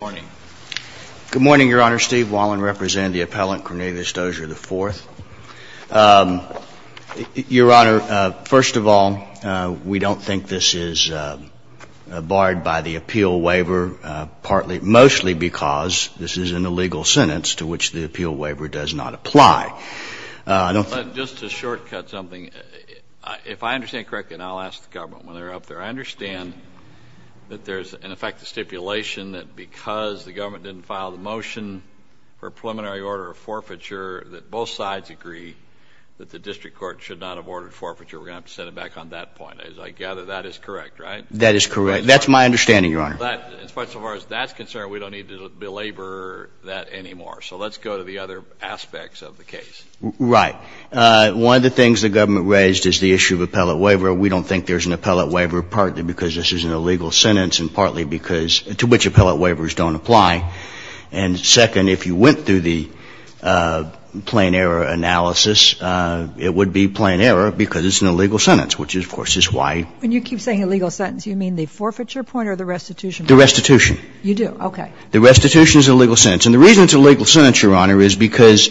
Your Honor, first of all, we don't think this is barred by the appeal waiver, partly, mostly because this is an illegal sentence to which the appeal waiver does not apply. Just to shortcut something, if I understand correctly, and I'll ask the government when they're up there, I understand that there's, in effect, a stipulation that because of the appeal waiver, because the government didn't file the motion for preliminary order of forfeiture, that both sides agree that the district court should not have ordered forfeiture. We're going to have to set it back on that point. As I gather, that is correct, right? That is correct. That's my understanding, Your Honor. As far as that's concerned, we don't need to belabor that anymore. So let's go to the other aspects of the case. Right. One of the things the government raised is the issue of appellate waiver. We don't think there's an appellate waiver partly because this is an illegal sentence and partly because to which appellate waivers don't apply. And second, if you went through the plain error analysis, it would be plain error because it's an illegal sentence, which, of course, is why. When you keep saying illegal sentence, you mean the forfeiture point or the restitution point? The restitution. You do. Okay. The restitution is an illegal sentence. And the reason it's an illegal sentence, Your Honor, is because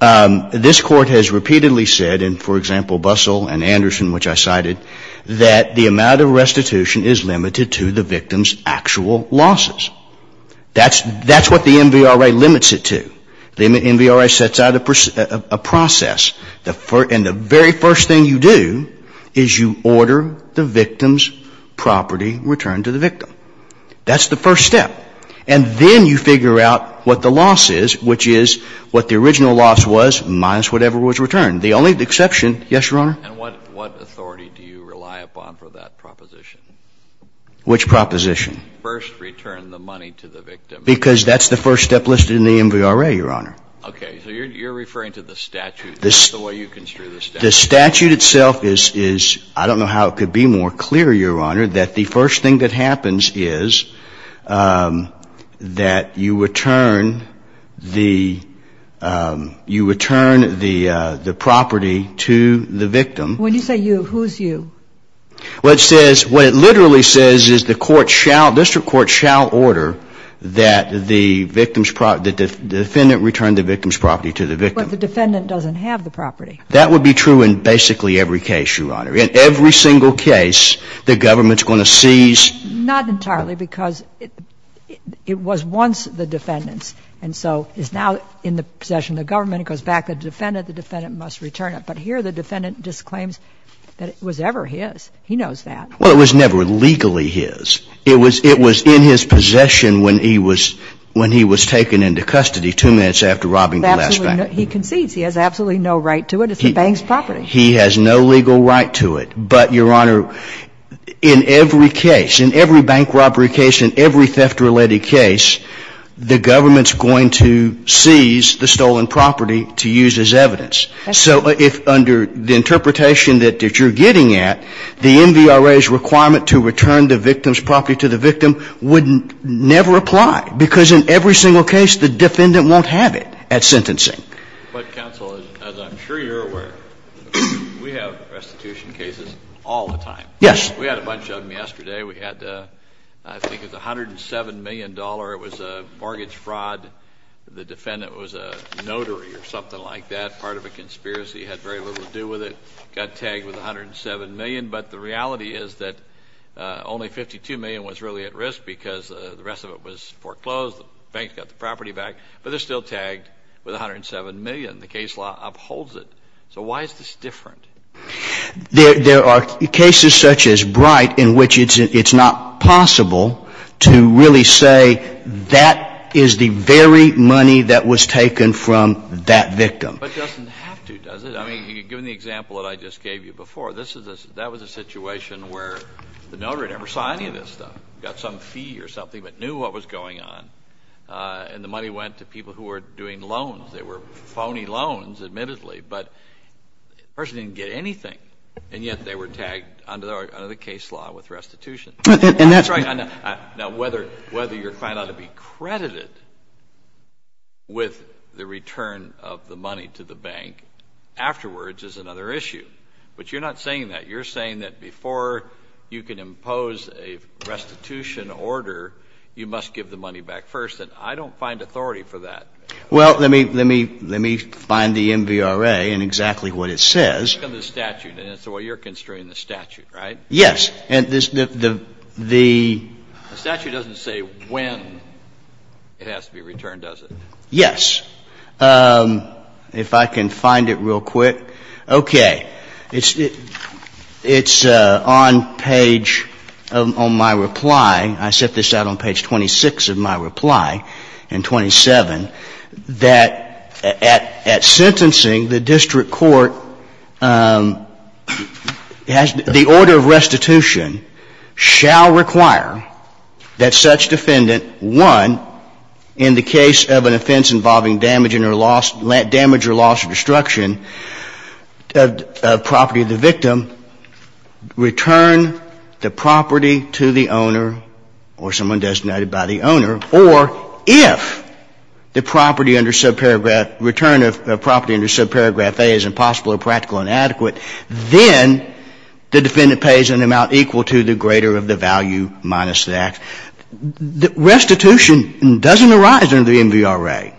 this Court has repeatedly said, in, for example, Bussell and Anderson, which I cited, that the amount of restitution is limited to the victim's actual losses. That's what the MVRA limits it to. The MVRA sets out a process. And the very first thing you do is you order the victim's property returned to the victim. That's the first step. And then you figure out what the loss is, which is what the original loss was minus whatever was returned. The only exception, yes, Your Honor? And what authority do you rely upon for that proposition? Which proposition? First return the money to the victim. Because that's the first step listed in the MVRA, Your Honor. Okay. So you're referring to the statute. That's the way you construe the statute. The statute itself is, I don't know how it could be more clear, Your Honor, that the first thing that happens is that you return the property to the victim. When you say you, who's you? Well, it says, what it literally says is the court shall, district court shall order that the defendant return the victim's property to the victim. But the defendant doesn't have the property. In every single case, the government's going to seize. Not entirely, because it was once the defendant's. And so it's now in the possession of the government. It goes back to the defendant. The defendant must return it. But here the defendant disclaims that it was ever his. He knows that. Well, it was never legally his. It was in his possession when he was taken into custody two minutes after robbing the last bank. He concedes. He has absolutely no right to it. It's the bank's property. He has no legal right to it. But, Your Honor, in every case, in every bank robbery case, in every theft-related case, the government's going to seize the stolen property to use as evidence. So if under the interpretation that you're getting at, the MVRA's requirement to return the victim's property to the victim would never apply, because in every single case the defendant won't have it at sentencing. But, counsel, as I'm sure you're aware, we have restitution cases all the time. Yes. We had a bunch of them yesterday. We had, I think it was $107 million. It was a mortgage fraud. The defendant was a notary or something like that. Part of a conspiracy. Had very little to do with it. Got tagged with $107 million. But the reality is that only $52 million was really at risk, because the rest of it was foreclosed. The bank got the property back. But they're still tagged with $107 million. The case law upholds it. So why is this different? There are cases such as Bright in which it's not possible to really say that is the very money that was taken from that victim. But it doesn't have to, does it? I mean, given the example that I just gave you before, that was a situation where the notary never saw any of this stuff. Got some fee or something, but knew what was going on. And the money went to people who were doing loans. They were phony loans, admittedly. But the person didn't get anything. And yet they were tagged under the case law with restitution. And that's right. Now, whether you're found out to be credited with the return of the money to the bank afterwards is another issue. But you're not saying that. You're saying that before you can impose a restitution order, you must give the person. I don't find authority for that. Well, let me find the MVRA and exactly what it says. It's in the statute. It's what you're considering in the statute, right? Yes. The statute doesn't say when it has to be returned, does it? Yes. If I can find it real quick. Okay. It's on page of my reply. I set this out on page 26 of my reply, and 27, that at sentencing, the district court has the order of restitution shall require that such defendant, one, in the case of an offense involving damage or loss of destruction of property to the owner or someone designated by the owner, or if the property under subparagraph return of property under subparagraph A is impossible or practical and adequate, then the defendant pays an amount equal to the greater of the value minus that. Restitution doesn't arise under the MVRA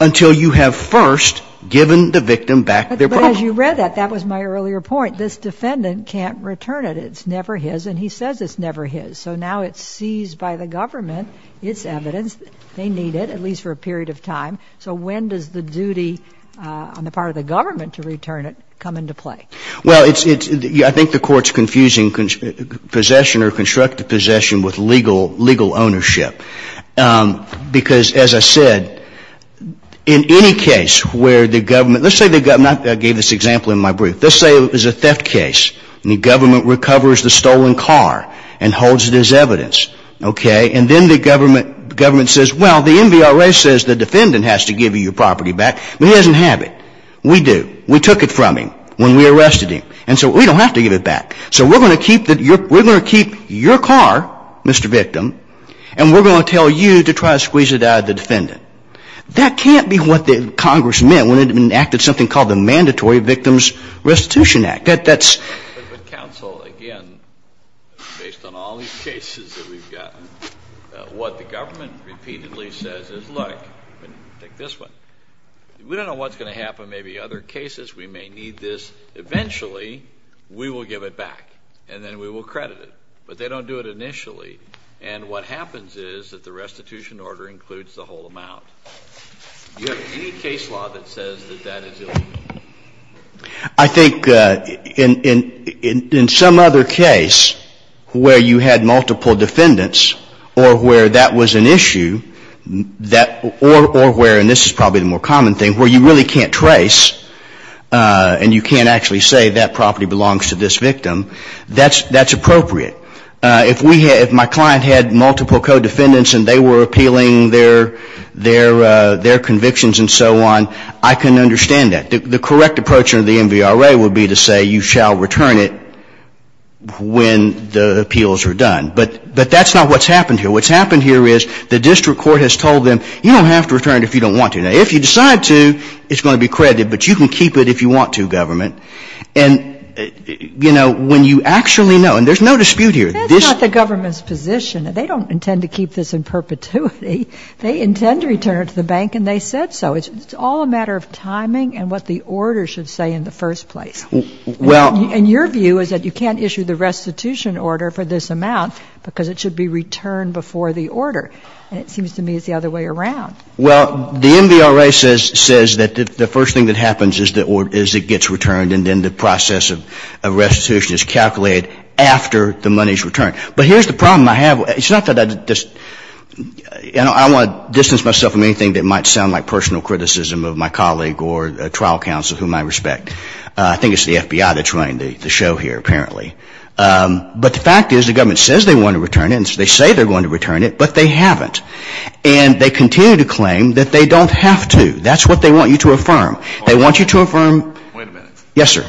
until you have first given the victim back their property. But as you read that, that was my earlier point. This defendant can't return it. It's never his. And he says it's never his. So now it's seized by the government. It's evidence. They need it, at least for a period of time. So when does the duty on the part of the government to return it come into play? Well, it's the ‑‑ I think the Court's confusing possession or constructive possession with legal ownership. Because, as I said, in any case where the government ‑‑ let's say the ‑‑ I gave this example in my brief. Let's say it was a theft case. And the government recovers the stolen car and holds it as evidence. Okay? And then the government says, well, the MVRA says the defendant has to give you your property back. But he doesn't have it. We do. We took it from him when we arrested him. And so we don't have to give it back. So we're going to keep your car, Mr. Victim, and we're going to tell you to try to squeeze it out of the defendant. That can't be what Congress meant when it enacted something called the But counsel, again, based on all these cases that we've gotten, what the government repeatedly says is, look, take this one. We don't know what's going to happen. Maybe other cases. We may need this. Eventually, we will give it back. And then we will credit it. But they don't do it initially. And what happens is that the restitution order includes the whole amount. Do you have any case law that says that that is illegal? I think in some other case where you had multiple defendants or where that was an issue or where, and this is probably the more common thing, where you really can't trace and you can't actually say that property belongs to this victim, that's appropriate. If my client had multiple co-defendants and they were appealing their convictions and so on, I can understand that. The correct approach under the MVRA would be to say you shall return it when the appeals are done. But that's not what's happened here. What's happened here is the district court has told them, you don't have to return it if you don't want to. Now, if you decide to, it's going to be credited, but you can keep it if you want to, government. And, you know, when you actually know, and there's no dispute here. That's not the government's position. They don't intend to keep this in perpetuity. They intend to return it to the bank, and they said so. It's all a matter of timing and what the order should say in the first place. And your view is that you can't issue the restitution order for this amount because it should be returned before the order. And it seems to me it's the other way around. Well, the MVRA says that the first thing that happens is it gets returned and then the process of restitution is calculated after the money is returned. But here's the problem I have. It's not that I just – I don't want to distance myself from anything that might sound like personal criticism of my colleague or a trial counsel whom I respect. I think it's the FBI that's running the show here, apparently. But the fact is the government says they want to return it, and they say they're going to return it, but they haven't. And they continue to claim that they don't have to. That's what they want you to affirm. They want you to affirm – Wait a minute. Yes, sir.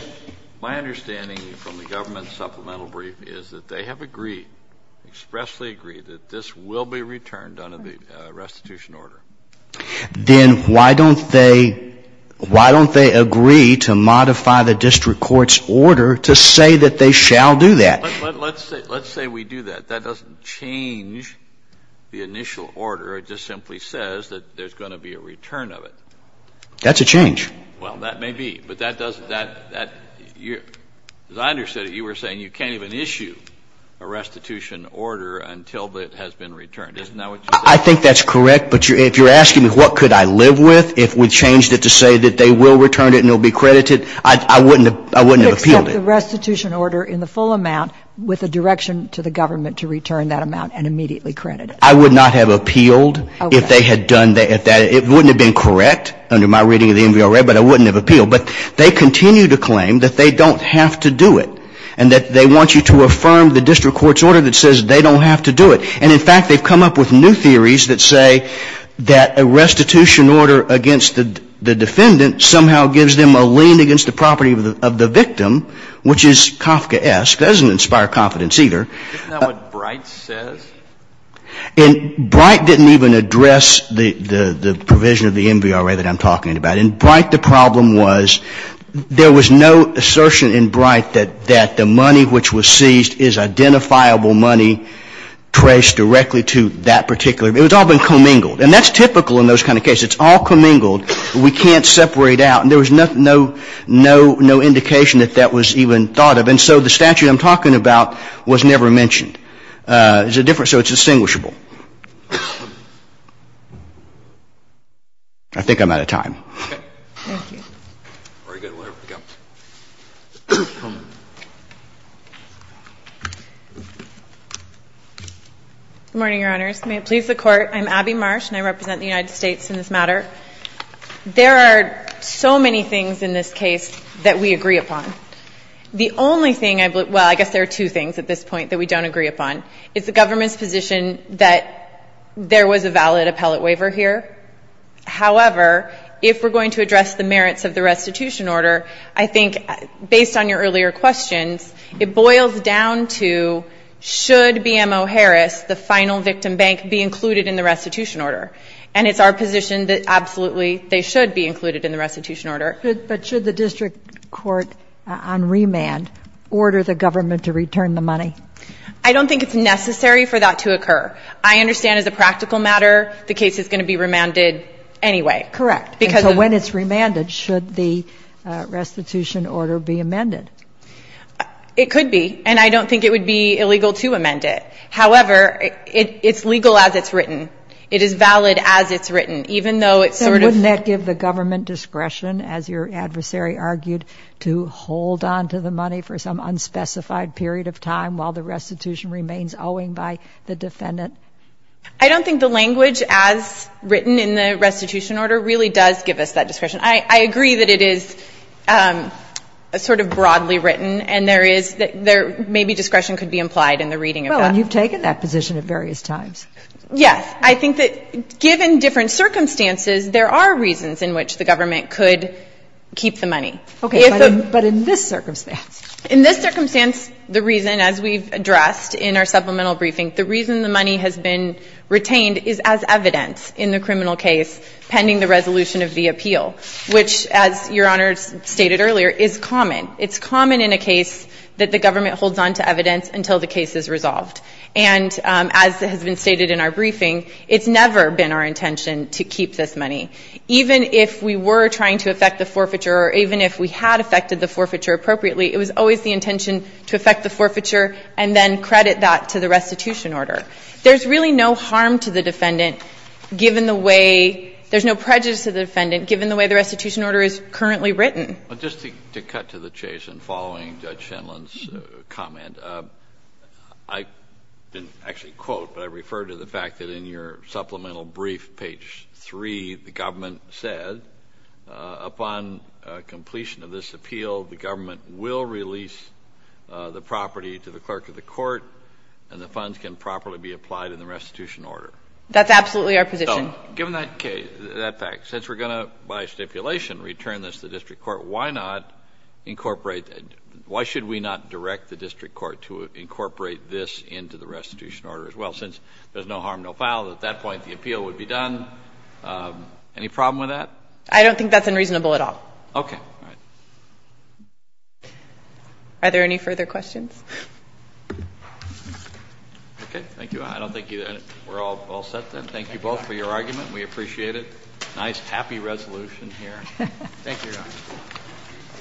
My understanding from the government supplemental brief is that they have agreed, expressly agreed, that this will be returned under the restitution order. Then why don't they – why don't they agree to modify the district court's order to say that they shall do that? Let's say we do that. That doesn't change the initial order. It just simply says that there's going to be a return of it. That's a change. Well, that may be. But that doesn't – as I understood it, you were saying you can't even issue a restitution order until it has been returned. Isn't that what you're saying? I think that's correct. But if you're asking me what could I live with if we changed it to say that they will return it and it will be credited, I wouldn't have appealed it. Except the restitution order in the full amount with a direction to the government to return that amount and immediately credit it. I would not have appealed if they had done that. It wouldn't have been correct under my reading of the MVRA, but I wouldn't have appealed. But they continue to claim that they don't have to do it and that they want you to affirm the district court's order that says they don't have to do it. And in fact, they've come up with new theories that say that a restitution order against the defendant somehow gives them a lien against the property of the victim, which is Kafkaesque. Doesn't inspire confidence either. Isn't that what Bright says? And Bright didn't even address the provision of the MVRA that I'm talking about. In Bright, the problem was there was no assertion in Bright that the money which was seized is identifiable money traced directly to that particular. It's all been commingled. And that's typical in those kind of cases. It's all commingled. We can't separate out. And there was no indication that that was even thought of. And so the statute I'm talking about was never mentioned. So it's distinguishable. I think I'm out of time. Okay. Thank you. Very good. We'll have to go. Good morning, Your Honors. May it please the Court. I'm Abby Marsh, and I represent the United States in this matter. There are so many things in this case that we agree upon. The only thing I, well, I guess there are two things at this point that we don't agree upon. It's the government's position that there was a valid appellate waiver here. However, if we're going to address the merits of the restitution order, I think based on your earlier questions, it boils down to should BMO Harris, the final victim bank, be included in the restitution order. And it's our position that absolutely they should be included in the restitution order. But should the district court on remand order the government to return the money? I don't think it's necessary for that to occur. I understand as a practical matter, the case is going to be remanded anyway. Correct. So when it's remanded, should the restitution order be amended? It could be. And I don't think it would be illegal to amend it. However, it's legal as it's written. It is valid as it's written, even though it's sort of ---- So wouldn't that give the government discretion, as your adversary argued, to hold on to the money for some unspecified period of time while the restitution remains owing by the defendant? I don't think the language as written in the restitution order really does give us that discretion. I agree that it is sort of broadly written, and there is ---- maybe discretion could be implied in the reading of that. Well, and you've taken that position at various times. Yes. I think that given different circumstances, there are reasons in which the government could keep the money. Okay. But in this circumstance? In this circumstance, the reason, as we've addressed in our supplemental briefing, the reason the money has been retained is as evidence in the criminal case pending the resolution of the appeal, which, as Your Honor stated earlier, is common. It's common in a case that the government holds on to evidence until the case is resolved. And as has been stated in our briefing, it's never been our intention to keep this money. Even if we were trying to affect the forfeiture or even if we had affected the forfeiture appropriately, it was always the intention to affect the forfeiture and then credit that to the restitution order. There's really no harm to the defendant given the way ---- there's no prejudice to the defendant given the way the restitution order is currently written. Well, just to cut to the chase and following Judge Shenlund's comment, I didn't actually quote, but I refer to the fact that in your supplemental brief, page 3, the government said, upon completion of this appeal, the government will release the property to the clerk of the court and the funds can properly be applied in the restitution order. That's absolutely our position. So, given that fact, since we're going to, by stipulation, return this to the district court, why not incorporate ---- why should we not direct the district court to incorporate this into the restitution order as well? Since there's no harm, no foul, at that point the appeal would be done. Any problem with that? I don't think that's unreasonable at all. Okay. All right. Are there any further questions? Okay. Thank you. I don't think we're all set then. Thank you both for your argument. We appreciate it. Thank you, Your Honor.